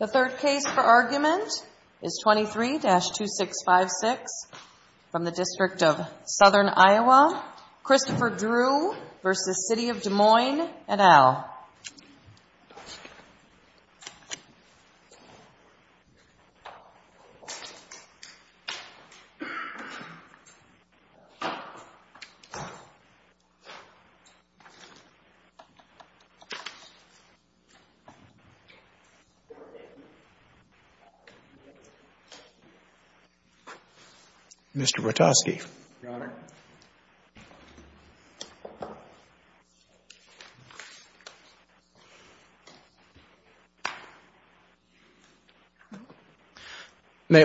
The third case for argument is 23-2656 from the District of Southern Iowa. Christopher Drew v. City of Des Moines et al. May it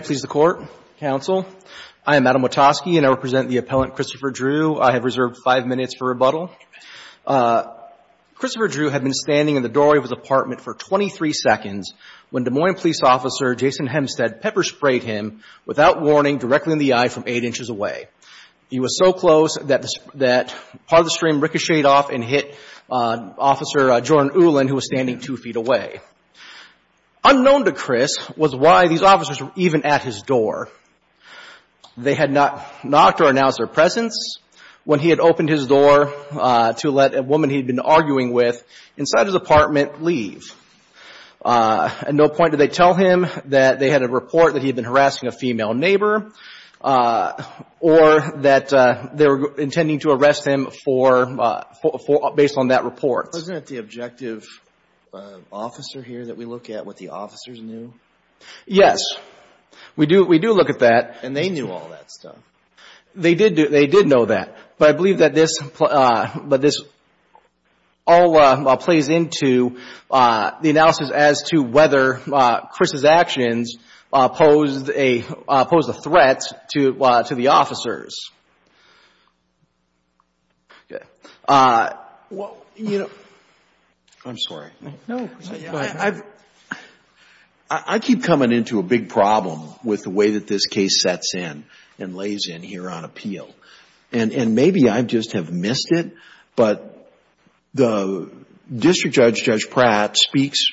please the Court, Counsel. I am Adam Watosky, and I represent the appellant Christopher Drew. I have reserved five minutes for rebuttal. Christopher Drew had been standing in the doorway of his apartment for 23 seconds when Des Moines Police Officer Jason Hempstead pepper-sprayed him without warning, directly in the eye from eight inches away. He was so close that part of the stream ricocheted off and hit Officer Jordan Ulan, who was standing two feet away. Unknown to Chris was why these officers were even at his door. They had not knocked or announced their presence when he had opened his door to let a woman he had been arguing with inside his apartment leave. At no point did they tell him that they had a report that he had been harassing a female neighbor or that they were intending to arrest him based on that report. Isn't it the objective officer here that we look at what the officers knew? Yes. We do look at that. And they knew all that stuff. They did know that. But I believe that this all plays into the analysis as to whether Chris's actions posed a threat to the officers. I'm sorry. No, go ahead. I keep coming into a big problem with the way that this case sets in and lays in here on appeal. And maybe I just have missed it, but the District Judge, Judge Pratt, speaks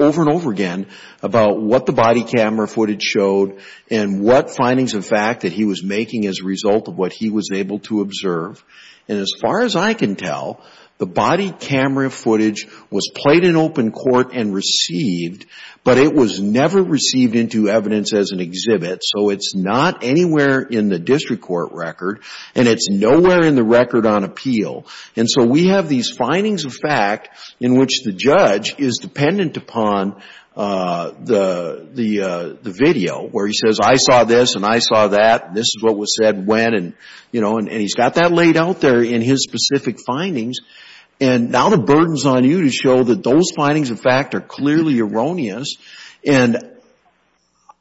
over and over again about what the body camera footage showed and what findings of fact that he was making as a result of what he was able to observe. And as far as I can tell, the body camera footage was played in open court and received, but it was never received into evidence as an exhibit. So it's not anywhere in the District Court record, and it's nowhere in the record on appeal. And so we have these findings of fact in which the judge is dependent upon the video where he says, I saw this and I saw that, and this is what was said when. And he's got that laid out there in his specific findings. And now the burden's on you to show that those findings of fact are clearly erroneous. And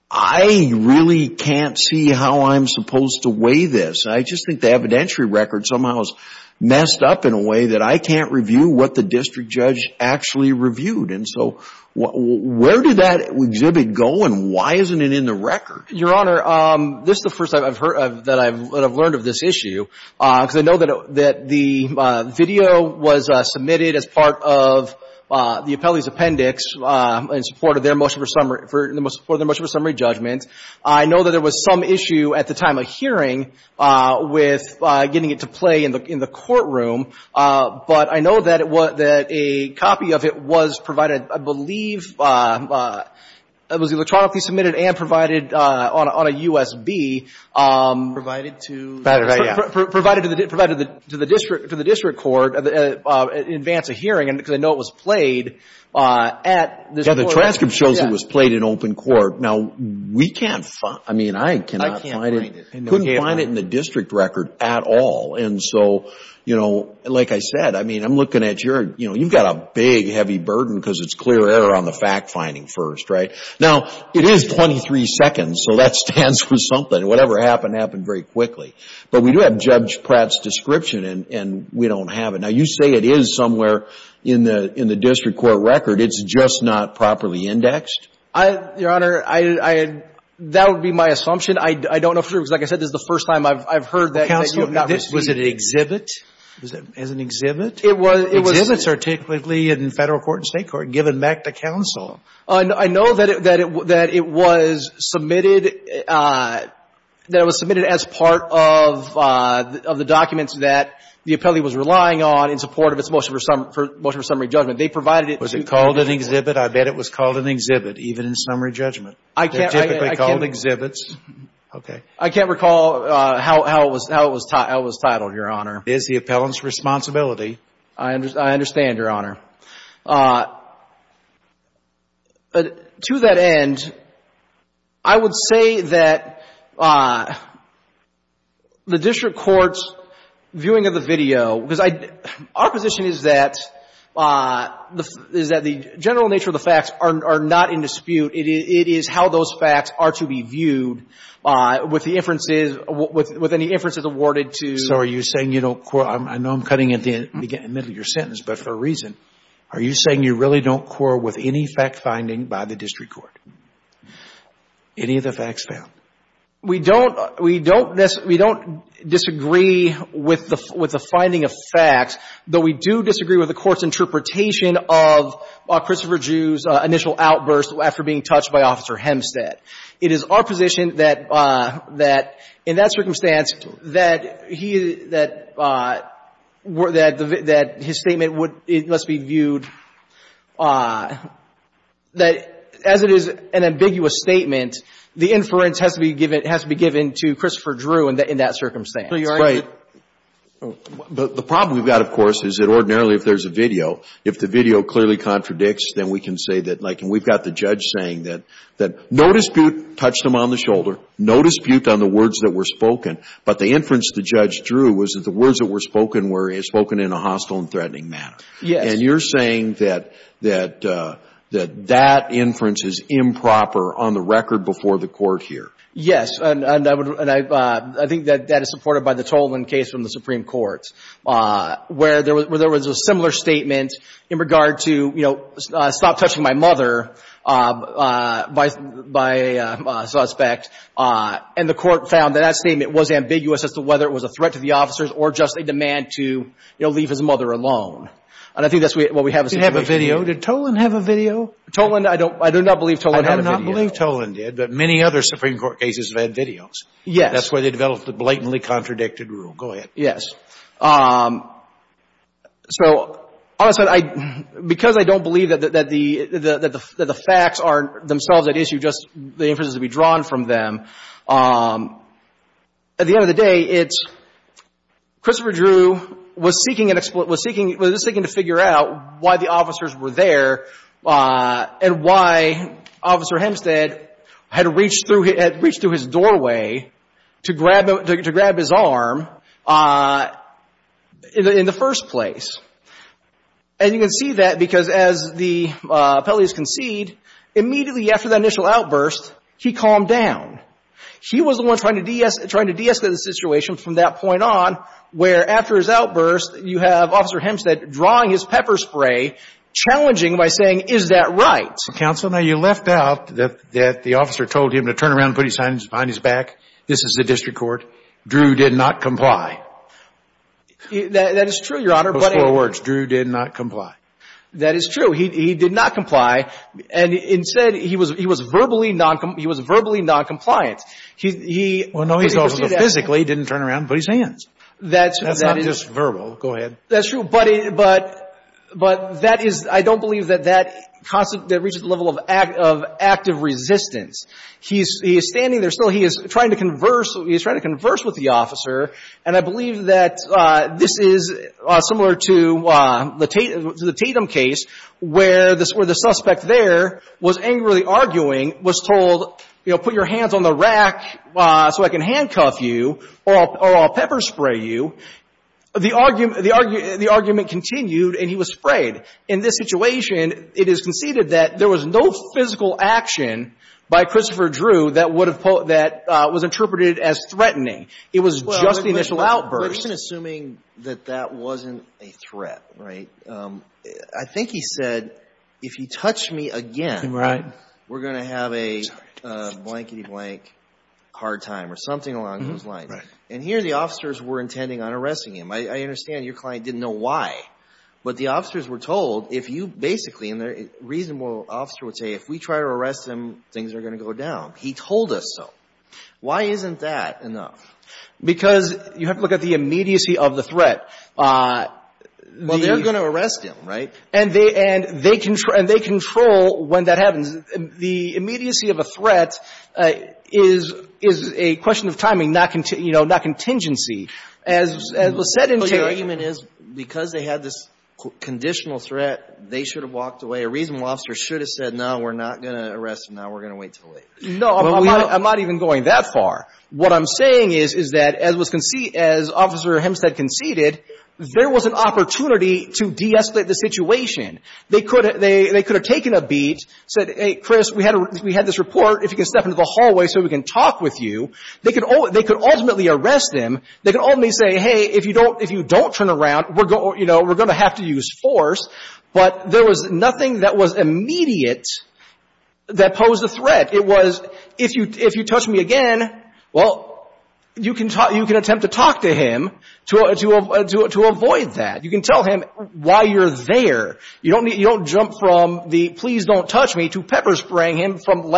I really can't see how I'm supposed to weigh this. I just think the evidentiary record somehow is messed up in a way that I can't review what the District Judge actually reviewed. And so where did that exhibit go, and why isn't it in the record? Your Honor, this is the first I've heard of that I've learned of this issue, because I know that the video was submitted as part of the appellee's appendix in support of their motion for summary judgment. I know that there was some issue at the time of hearing with getting it to play in the courtroom. But I know that a copy of it was provided, I believe, it was electronically submitted and provided on a USB. Provided to? Provided to the District Court in advance of hearing, because I know it was played at this court. Yeah, the transcript shows it was played in open court. Now, we can't find, I mean, I cannot find it. I can't find it. Couldn't find it in the district record at all. And so, you know, like I said, I mean, I'm looking at your, you know, you've got a big heavy burden because it's clear error on the fact-finding first, right? Now, it is 23 seconds, so that stands for something. Whatever happened, happened very quickly. But we do have Judge Pratt's description, and we don't have it. Now, you say it is somewhere in the district court record. It's just not properly indexed? Your Honor, that would be my assumption. I don't know for sure, because like I said, this is the first time I've heard that. Counsel, was it an exhibit? Was it as an exhibit? It was. Exhibits are typically in Federal court and State court given back to counsel. I know that it was submitted, that it was submitted as part of the documents that the appellee was relying on in support of its motion for summary judgment. They provided it. Was it called an exhibit? I bet it was called an exhibit, even in summary judgment. They're typically called exhibits. Okay. I can't recall how it was titled, Your Honor. It is the appellant's responsibility. I understand, Your Honor. But to that end, I would say that the district court's viewing of the video, because our position is that the general nature of the facts are not in dispute. It is how those facts are to be viewed with the inferences, with any inferences awarded to. So are you saying you don't quarrel? I know I'm cutting in the middle of your sentence, but for a reason. Are you saying you really don't quarrel with any fact-finding by the district court? Any of the facts found? We don't disagree with the finding of facts, though we do disagree with the Court's interpretation of Christopher Jew's initial outburst after being touched by Officer Hempstead. It is our position that, in that circumstance, that his statement must be viewed as it is an ambiguous statement. The inference has to be given to Christopher Drew in that circumstance. Right. But the problem we've got, of course, is that ordinarily, if there's a video, if the video clearly contradicts, then we can say that, like, and we've got the judge saying that no dispute touched him on the shoulder, no dispute on the words that were spoken, but the inference the judge drew was that the words that were spoken were spoken in a hostile and threatening manner. Yes. And you're saying that that inference is improper on the record before the Court here? Yes, and I think that that is supported by the Tolan case from the Supreme Court, where there was a similar statement in regard to, you know, stop touching my mother by a suspect, and the Court found that that statement was ambiguous as to whether it was a threat to the officers or just a demand to, you know, leave his mother alone. And I think that's what we have in this situation. Did he have a video? Did Tolan have a video? Tolan, I don't – I do not believe Tolan had a video. I do not believe Tolan did, but many other Supreme Court cases have had videos. Yes. That's where they developed the blatantly contradicted rule. Go ahead. Yes. So, all of a sudden, I – because I don't believe that the facts aren't themselves at issue, just the inference has to be drawn from them, at the end of the day, it's Christopher Drew was seeking – was seeking to figure out why the officers were there and why Officer Hempstead had reached through his doorway to grab his arm in the first place. And you can see that because, as the appellees concede, immediately after the initial outburst, he calmed down. He was the one trying to de-escalate the situation from that point on, where after his outburst, you have Officer Hempstead drawing his pepper spray, challenging by saying, is that right? Counsel, now you left out that the officer told him to turn around and put his hands behind his back. This is the district court. Drew did not comply. That is true, Your Honor, but – Those four words, Drew did not comply. That is true. He did not comply. And instead, he was verbally noncompliant. He – Well, no, he's also physically didn't turn around and put his hands. That's not just verbal. Go ahead. That's true, but that is – I don't believe that that reaches the level of active resistance. He is standing there still. He is trying to converse with the officer, and I believe that this is similar to the was angrily arguing, was told, you know, put your hands on the rack so I can handcuff you or I'll pepper spray you. The argument continued, and he was sprayed. In this situation, it is conceded that there was no physical action by Christopher Drew that would have – that was interpreted as threatening. It was just the initial outburst. Well, we're just assuming that that wasn't a threat, right? I think he said, if you touch me again, we're going to have a blankety-blank hard time or something along those lines. And here the officers were intending on arresting him. I understand your client didn't know why, but the officers were told if you basically – and the reasonable officer would say, if we try to arrest him, things are going to go down. He told us so. Why isn't that enough? Because you have to look at the immediacy of the threat. Well, they're going to arrest him, right? And they control when that happens. The immediacy of a threat is a question of timing, not contingency. As was said in Taylor – Well, your argument is because they had this conditional threat, they should have walked away. A reasonable officer should have said, no, we're not going to arrest him now. We're going to wait until later. No, I'm not even going that far. What I'm saying is, is that as Officer Hempstead conceded, there was an opportunity to de-escalate the situation. They could have taken a beat, said, hey, Chris, we had this report. If you can step into the hallway so we can talk with you. They could ultimately arrest him. They could ultimately say, hey, if you don't turn around, we're going to have to use force. But there was nothing that was immediate that posed a threat. It was, if you touch me again, well, you can attempt to talk to him to avoid that. You can tell him why you're there. You don't jump from the, please don't touch me, to pepper spraying him from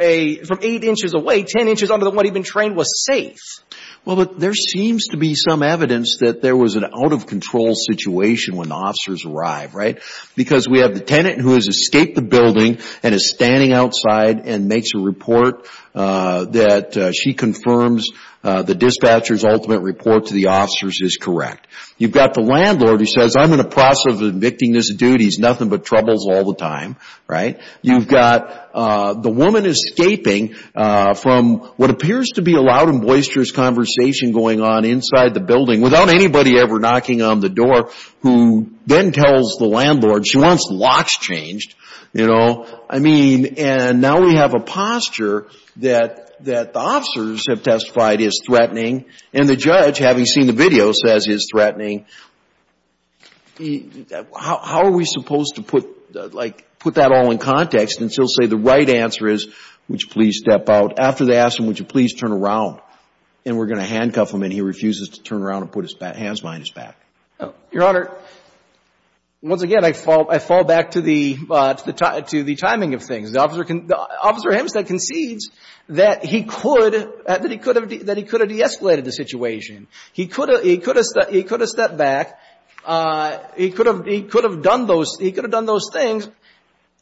eight inches away, ten inches under what he'd been trained was safe. Well, but there seems to be some evidence that there was an out-of-control situation when the officers arrived, right? Because we have the tenant who has escaped the building and is standing outside and makes a report that she confirms the dispatcher's ultimate report to the officers is correct. You've got the landlord who says, I'm in the process of evicting this dude. He's nothing but troubles all the time, right? You've got the woman escaping from what appears to be a loud and boisterous conversation going on inside the building without anybody ever knocking on the door. She wants locks changed, you know? I mean, and now we have a posture that the officers have testified is threatening and the judge, having seen the video, says he's threatening. How are we supposed to put, like, put that all in context and still say the right answer is, would you please step out? After they ask him, would you please turn around? And we're going to handcuff him and he refuses to turn around and put his hands behind his back. Your Honor, once again, I fall back to the timing of things. Officer Hempstead concedes that he could have de-escalated the situation. He could have stepped back. He could have done those things.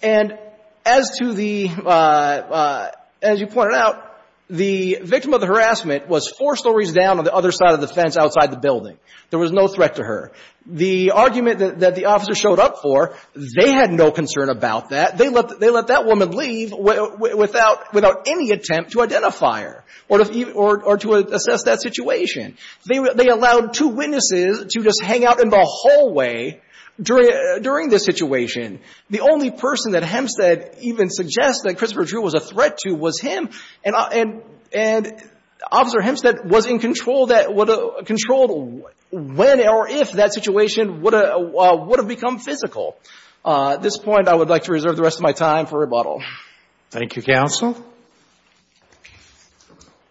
And as to the, as you pointed out, the victim of the harassment was four stories down on the other side of the fence outside the building. There was no threat to her. The argument that the officer showed up for, they had no concern about that. They let that woman leave without any attempt to identify her or to assess that situation. They allowed two witnesses to just hang out in the hallway during this situation. The only person that Hempstead even suggests that Christopher Drew was a threat to was him. And Officer Hempstead was in control that would have controlled when or if that situation would have become physical. At this point, I would like to reserve the rest of my time for rebuttal. Thank you, counsel.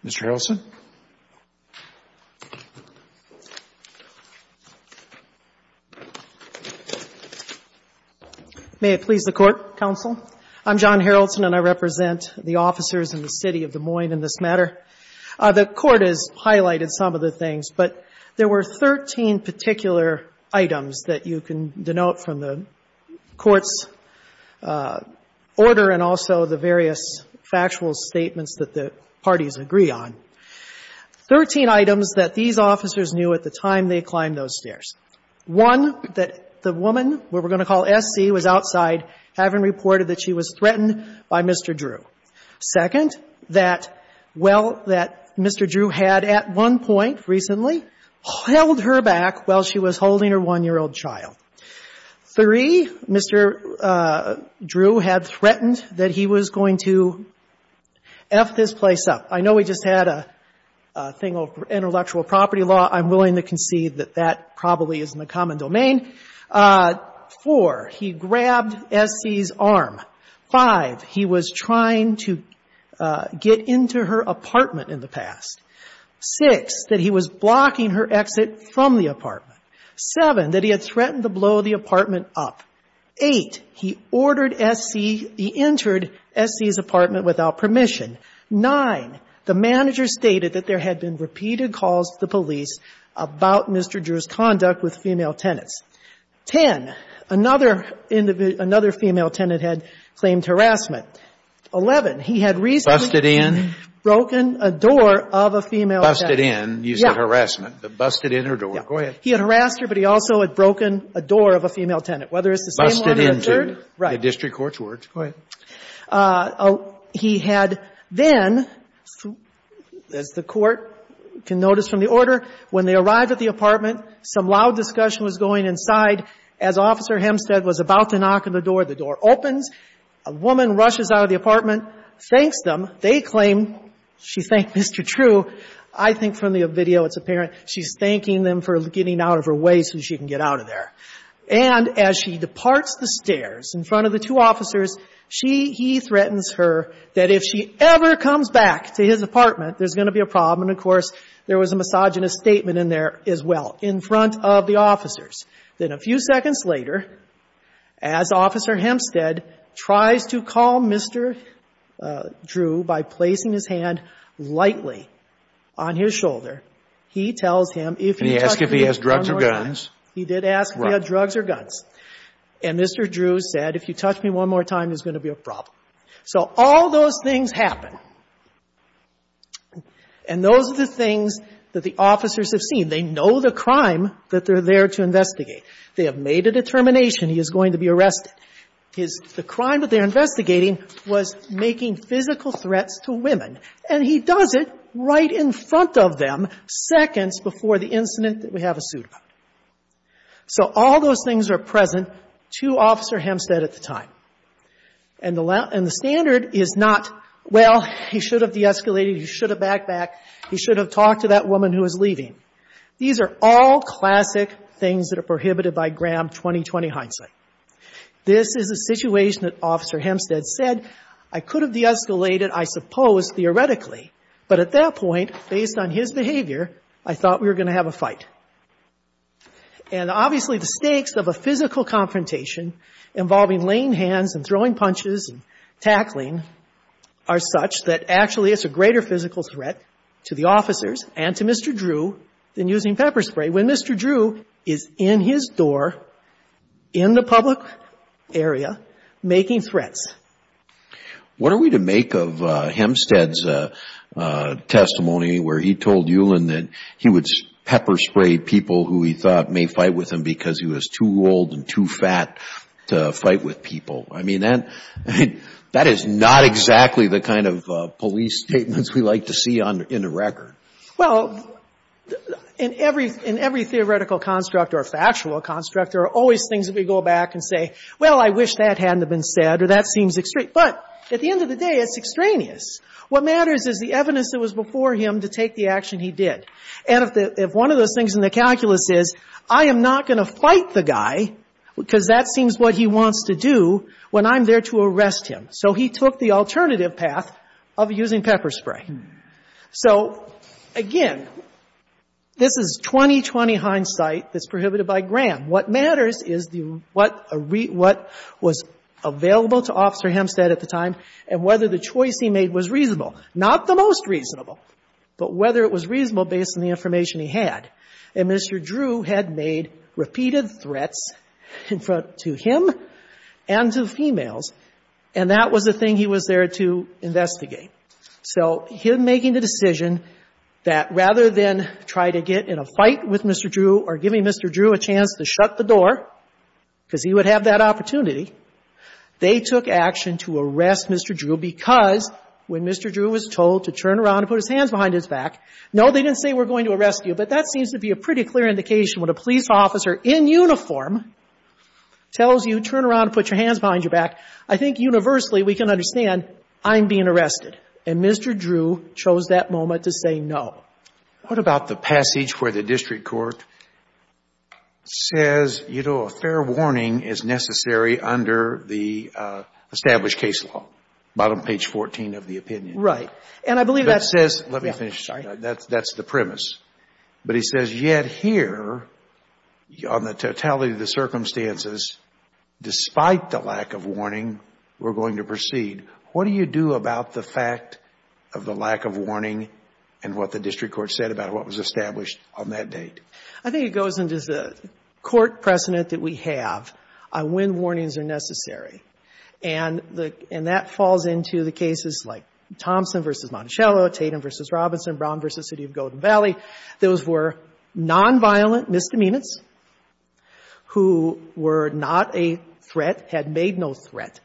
Mr. Harrelson. May it please the Court, counsel. I'm John Harrelson, and I represent the officers in the City of Des Moines in this matter. The Court has highlighted some of the things, but there were 13 particular items that you can denote from the Court's order and also the various factual statements that the parties agree on. Thirteen items that these officers knew at the time they climbed those stairs. One, that the woman, what we're going to call S.C., was outside having reported that she was threatened by Mr. Drew. Second, that well, that Mr. Drew had at one point recently held her back while she was holding her one-year-old child. Three, Mr. Drew had threatened that he was going to F this place up. I know we just had a thing of intellectual property law. I'm willing to concede that that probably isn't a common domain. Four, he grabbed S.C.'s arm. Five, he was trying to get into her apartment in the past. Six, that he was blocking her exit from the apartment. Seven, that he had threatened to blow the apartment up. Eight, he ordered S.C. He entered S.C.'s apartment without permission. Nine, the manager stated that there had been repeated calls to the police about Mr. Drew's conduct with female tenants. Ten, another female tenant had claimed harassment. Eleven, he had recently broken a door of a female tenant. Breyer. Busted in. You said harassment. Busted in her door. Go ahead. He had harassed her, but he also had broken a door of a female tenant, whether it's the same one or the third. Busted into. Right. The district court's words. Go ahead. He had then, as the Court can notice from the order, when they arrived at the apartment, some loud discussion was going inside. As Officer Hempstead was about to knock on the door, the door opens. A woman rushes out of the apartment, thanks them. They claim she thanked Mr. Drew. I think from the video it's apparent she's thanking them for getting out of her way so she can get out of there. And as she departs the stairs in front of the two officers, she, he threatens her that if she ever comes back to his apartment, there's going to be a problem. And, of course, there was a misogynist statement in there as well, in front of the officers. Then a few seconds later, as Officer Hempstead tries to call Mr. Drew by placing his hand lightly on his shoulder, he tells him if he. And he asked if he has drugs or guns. He did ask if he had drugs or guns. And Mr. Drew said, if you touch me one more time, there's going to be a problem. So all those things happen. And those are the things that the officers have seen. They know the crime that they're there to investigate. They have made a determination he is going to be arrested. The crime that they're investigating was making physical threats to women. And he does it right in front of them, seconds before the incident that we have all sued about. So all those things are present to Officer Hempstead at the time. And the standard is not, well, he should have de-escalated, he should have backed back, he should have talked to that woman who was leaving. These are all classic things that are prohibited by Graham 2020 hindsight. This is a situation that Officer Hempstead said, I could have de-escalated, I suppose, theoretically, but at that point, based on his behavior, I thought we were going to have a fight. And obviously, the stakes of a physical confrontation involving laying hands and throwing punches and tackling are such that actually it's a greater physical threat to the officers and to Mr. Drew than using pepper spray, when Mr. Drew is in his door, in the public area, making threats. What are we to make of Hempstead's testimony where he told Eulen that he would pepper spray people who he thought may fight with him because he was too old and too fat to fight with people? I mean, that is not exactly the kind of police statements we like to see in a record. Well, in every theoretical construct or factual construct, there are always things that we go back and say, well, I wish that hadn't have been said or that seems extreme. But at the end of the day, it's extraneous. What matters is the evidence that was before him to take the action he did. And if one of those things in the calculus is, I am not going to fight the guy because that seems what he wants to do when I'm there to arrest him. So he took the alternative path of using pepper spray. So, again, this is 2020 hindsight that's prohibited by Graham. What matters is what was available to Officer Hempstead at the time and whether the choice he made was reasonable, not the most reasonable, but whether it was reasonable based on the information he had. And Mr. Drew had made repeated threats to him and to the females, and that was the thing he was there to investigate. So him making the decision that rather than try to get in a fight with Mr. Drew or giving Mr. Drew a chance to shut the door because he would have that opportunity, they took action to arrest Mr. Drew because when Mr. Drew was told to turn around and put his hands behind his back, no, they didn't say we're going to arrest you, but that seems to be a pretty clear indication when a police officer in uniform tells you turn around and put your hands behind your back, I think universally we can understand I'm being arrested. And Mr. Drew chose that moment to say no. What about the passage where the district court says, you know, a fair warning is necessary under the established case law, bottom page 14 of the opinion? Right. And I believe that says — Let me finish. Sorry. That's the premise. But he says yet here on the totality of the circumstances, despite the lack of warning, we're going to proceed. What do you do about the fact of the lack of warning and what the district court said about what was established on that date? I think it goes into the court precedent that we have on when warnings are necessary. And that falls into the cases like Thompson v. Monticello, Tatum v. Robinson, Brown v. City of Golden Valley. Those were nonviolent misdemeanors who were not a threat, had made no threat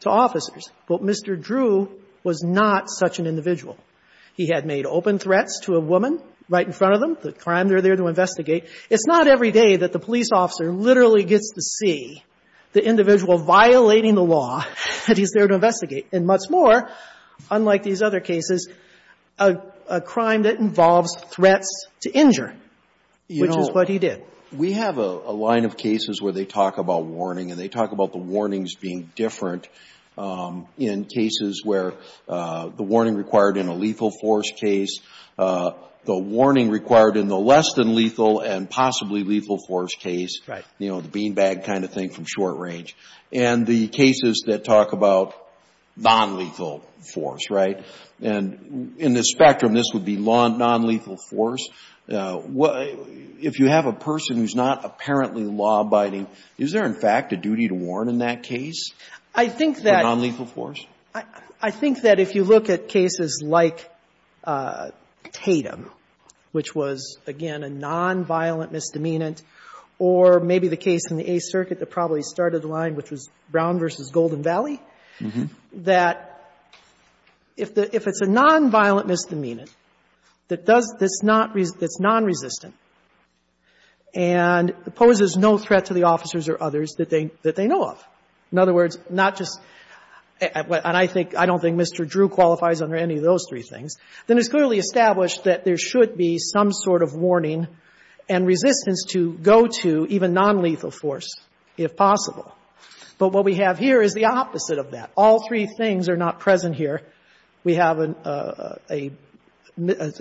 to officers, but Mr. Drew was not such an individual. He had made open threats to a woman right in front of him, the crime they're there to investigate. It's not every day that the police officer literally gets to see the individual violating the law that he's there to investigate. And much more, unlike these other cases, a crime that involves threats to injure, which is what he did. You know, we have a line of cases where they talk about warning, and they talk about the warnings being different in cases where the warning required in a lethal force case, the warning required in the less than lethal and possibly lethal force case, you know, the beanbag kind of thing from short range. And the cases that talk about nonlethal force, right? And in this spectrum, this would be nonlethal force. If you have a person who's not apparently law-abiding, is there, in fact, a duty to warn in that case? Or nonlethal force? I think that if you look at cases like Tatum, which was, again, a nonviolent misdemeanant, or maybe the case in the Eighth Circuit that probably started the line, which was Brown v. Golden Valley, that if it's a nonviolent misdemeanant that's nonresistant and poses no threat to the officers or others that they know of, in other words, not just, and I think, I don't think Mr. Drew qualifies under any of those three things, then it's clearly established that there should be some sort of warning and resistance to go to even nonlethal force if possible. But what we have here is the opposite of that. All three things are not present here. We have a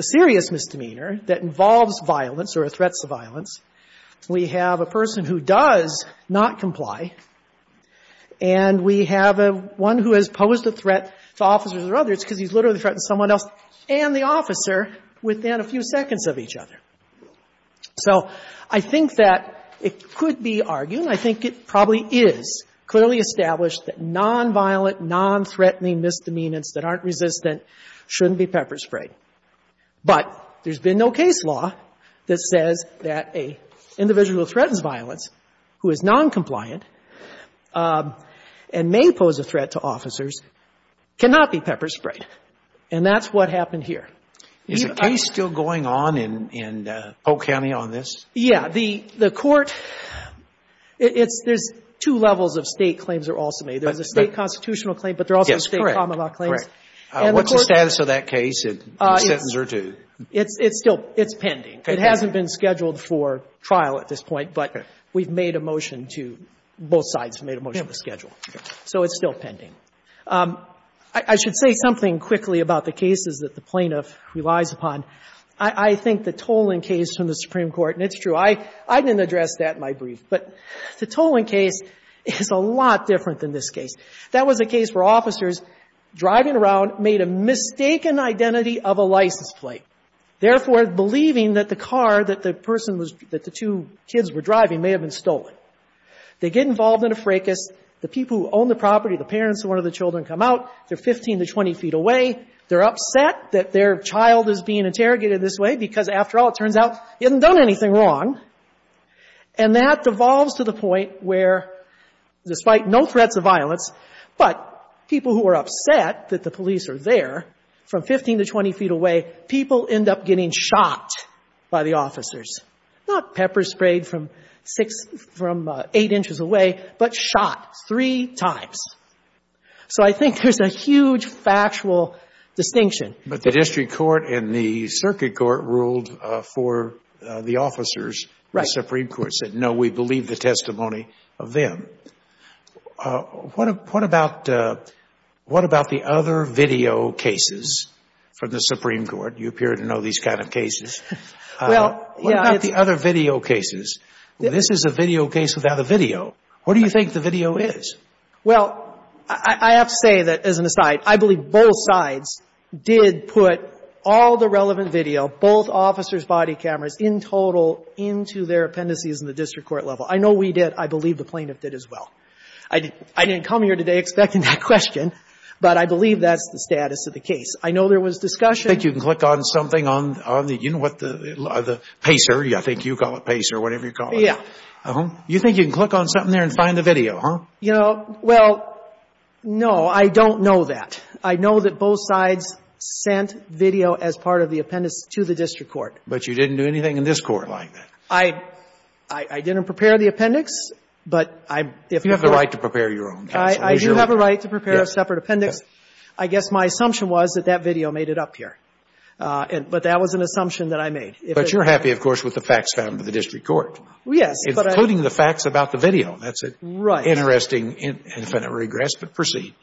serious misdemeanor that involves violence or threats to violence. We have a person who does not comply. And we have one who has posed a threat to officers or others because he's literally threatened someone else and the officer within a few seconds of each other. So I think that it could be argued, and I think it probably is, clearly established that nonviolent, nonthreatening misdemeanants that aren't resistant shouldn't be pepper-sprayed. But there's been no case law that says that an individual who threatens violence who is noncompliant and may pose a threat to officers cannot be pepper-sprayed. And that's what happened here. Is a case still going on in Polk County on this? Yeah. The Court, it's — there's two levels of State claims that are also made. There's a State constitutional claim, but there are also State common law claims. Yes, correct. Correct. What's the status of that case in a sentence or two? It's still — it's pending. It hasn't been scheduled for trial at this point, but we've made a motion to — both sides have made a motion to schedule. So it's still pending. I should say something quickly about the cases that the plaintiff relies upon. I think the Tolling case from the Supreme Court, and it's true, I didn't address that in my brief, but the Tolling case is a lot different than this case. That was a case where officers driving around made a mistaken identity of a license plate, therefore believing that the car that the person was — that the two kids were driving may have been stolen. They get involved in a fracas. The people who own the property, the parents of one of the children, come out. They're 15 to 20 feet away. They're upset that their child is being interrogated this way because, after all, it turns out he hasn't done anything wrong. And that devolves to the point where, despite no threats of violence, but people who are upset that the police are there, from 15 to 20 feet away, people end up getting shot by the officers. Not pepper sprayed from six — from eight inches away, but shot three times. So I think there's a huge factual distinction. But the district court and the circuit court ruled for the officers. Right. The Supreme Court said, no, we believe the testimony of them. What about — what about the other video cases from the Supreme Court? You appear to know these kind of cases. Well, yeah. What about the other video cases? This is a video case without a video. What do you think the video is? Well, I have to say that, as an aside, I believe both sides did put all the relevant video, both officers' body cameras, in total, into their appendices in the district court level. I know we did. I believe the plaintiff did as well. I didn't come here today expecting that question, but I believe that's the status of the case. I know there was discussion — I think you can click on something on the — you know what the — PACER, I think you call it PACER, whatever you call it. Yeah. You think you can click on something there and find the video, huh? You know, well, no. I don't know that. I know that both sides sent video as part of the appendix to the district court. But you didn't do anything in this Court like that? I — I didn't prepare the appendix, but I — You have the right to prepare your own, counsel. I do have a right to prepare a separate appendix. I guess my assumption was that that video made it up here. But that was an assumption that I made. But you're happy, of course, with the facts found in the district court. Yes, but I — Including the facts about the video. Right. Interesting infinite regress, but proceed.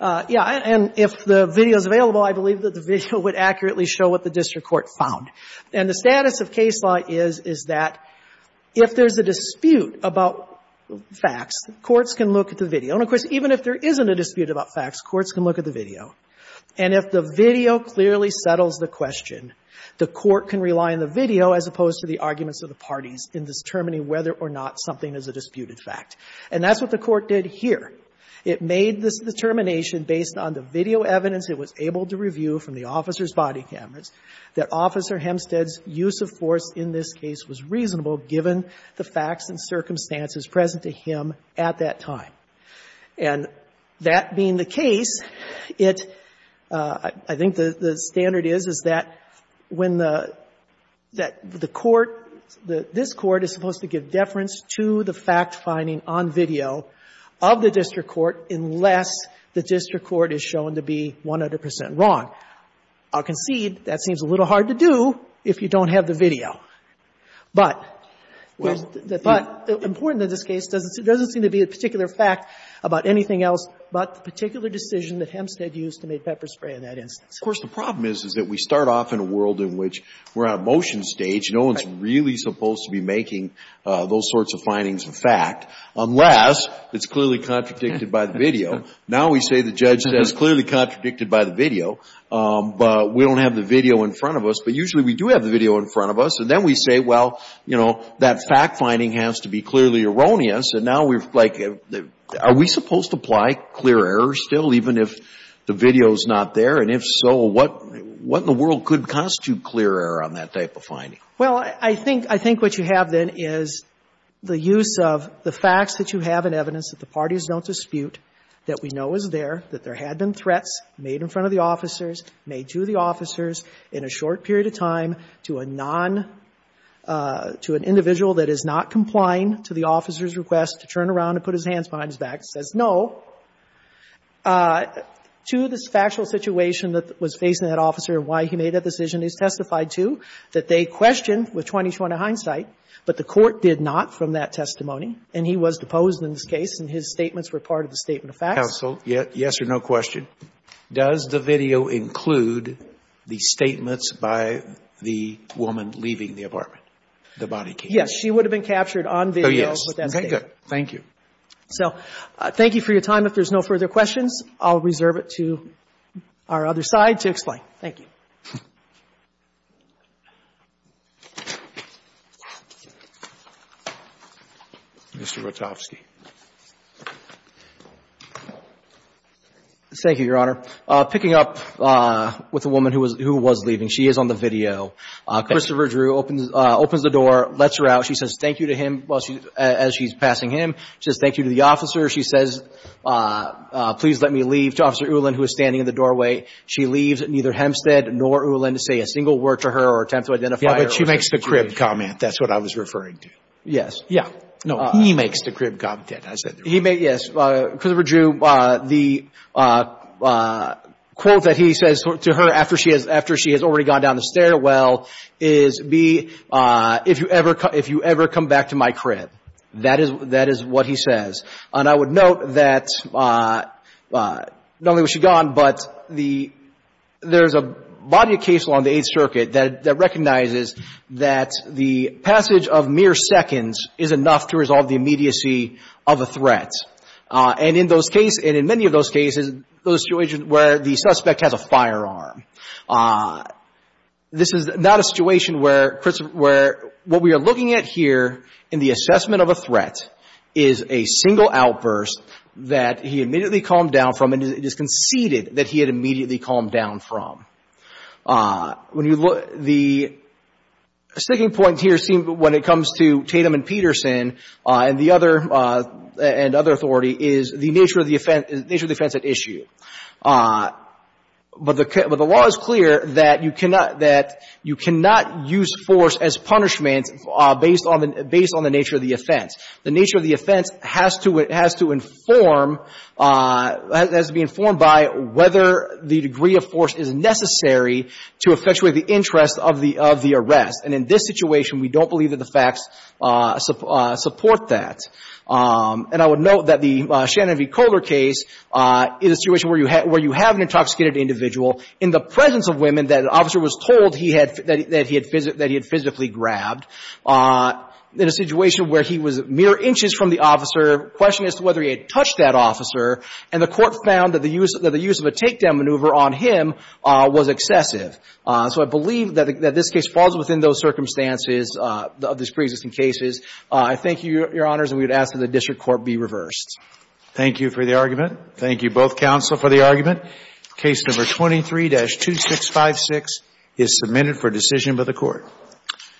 Yeah. And if the video is available, I believe that the video would accurately show what the district court found. And the status of case law is, is that if there's a dispute about facts, courts can look at the video. And, of course, even if there isn't a dispute about facts, courts can look at the video. And if the video clearly settles the question, the court can rely on the video as opposed to the arguments of the parties in determining whether or not something is a disputed fact. And that's what the Court did here. It made this determination based on the video evidence it was able to review from the officer's body cameras that Officer Hempstead's use of force in this case was reasonable given the facts and circumstances present to him at that time. And that being the case, it — I think the standard is, is that when the — that the court — this court is supposed to give deference to the fact finding on video of the district court unless the district court is shown to be 100 percent wrong. I'll concede that seems a little hard to do if you don't have the video. But the — but important in this case doesn't seem to be a particular fact about anything else but the particular decision that Hempstead used to make pepper spray in that instance. Of course, the problem is, is that we start off in a world in which we're on a motion stage. No one's really supposed to be making those sorts of findings of fact unless it's clearly contradicted by the video. Now we say the judge says it's clearly contradicted by the video, but we don't have the video in front of us. But usually we do have the video in front of us. And then we say, well, you know, that fact finding has to be clearly erroneous. And now we're like, are we supposed to apply clear error still even if the video is not there? And if so, what in the world could constitute clear error on that type of finding? Well, I think — I think what you have, then, is the use of the facts that you have in evidence that the parties don't dispute, that we know is there, that there had been threats made in front of the officers, made to the officers in a short period of time to a non — to an individual that is not complying to the officer's request to turn around and put his hands behind his back, says no. So to the factual situation that was faced in that officer and why he made that decision is testified to, that they questioned with 20-20 hindsight, but the court did not from that testimony, and he was deposed in this case, and his statements were part of the statement of facts. Counsel, yes or no question? Does the video include the statements by the woman leaving the apartment, the body camera? Yes. She would have been captured on video. Oh, yes. Thank you. So thank you for your time. If there's no further questions, I'll reserve it to our other side to explain. Thank you. Mr. Rotovsky. Thank you, Your Honor. Picking up with the woman who was — who was leaving. She is on the video. Christopher Drew opens — opens the door, lets her out. She says thank you to him while she — as she's passing him. She says thank you to the officer. She says please let me leave to Officer Ulan, who is standing in the doorway. She leaves. Neither Hempstead nor Ulan say a single word to her or attempt to identify her. Yeah, but she makes the crib comment. That's what I was referring to. Yes. Yeah. No, he makes the crib comment. I said the crib comment. He made — yes. Christopher Drew, the quote that he says to her after she has — after she has already gone down the stairwell is, B, if you ever — if you ever come back to my crib, that is — that is what he says. And I would note that not only was she gone, but the — there's a body of case along the Eighth Circuit that — that recognizes that the passage of mere seconds is enough to resolve the immediacy of a threat. And in those cases — and in many of those cases, those situations where the suspect has a firearm, this is not a situation where Christopher — where what we are looking at here in the assessment of a threat is a single outburst that he immediately calmed down from, and it is conceded that he had immediately calmed down from. When you look — the sticking point here seems — when it comes to Tatum and Peterson and the other — and other authority is the nature of the offense — the nature of the offense at issue. But the — but the law is clear that you cannot — that you cannot use force as punishment based on the — based on the nature of the offense. The nature of the offense has to — has to inform — has to be informed by whether the degree of force is necessary to effectuate the interest of the — of the arrest. And in this situation, we don't believe that the facts support that. And I would note that the Shannon v. Kohler case is a situation where you have — where you have an intoxicated individual in the presence of women that an officer was told he had — that he had — that he had physically grabbed in a situation where he was mere inches from the officer. The question is whether he had touched that officer. And the Court found that the use — that the use of a takedown maneuver on him was excessive. So I believe that this case falls within those circumstances of these preexisting cases. I thank you, Your Honors, and we would ask that the district court be reversed. Thank you for the argument. Thank you, both counsel, for the argument. Case No. 23-2656 is submitted for decision by the Court.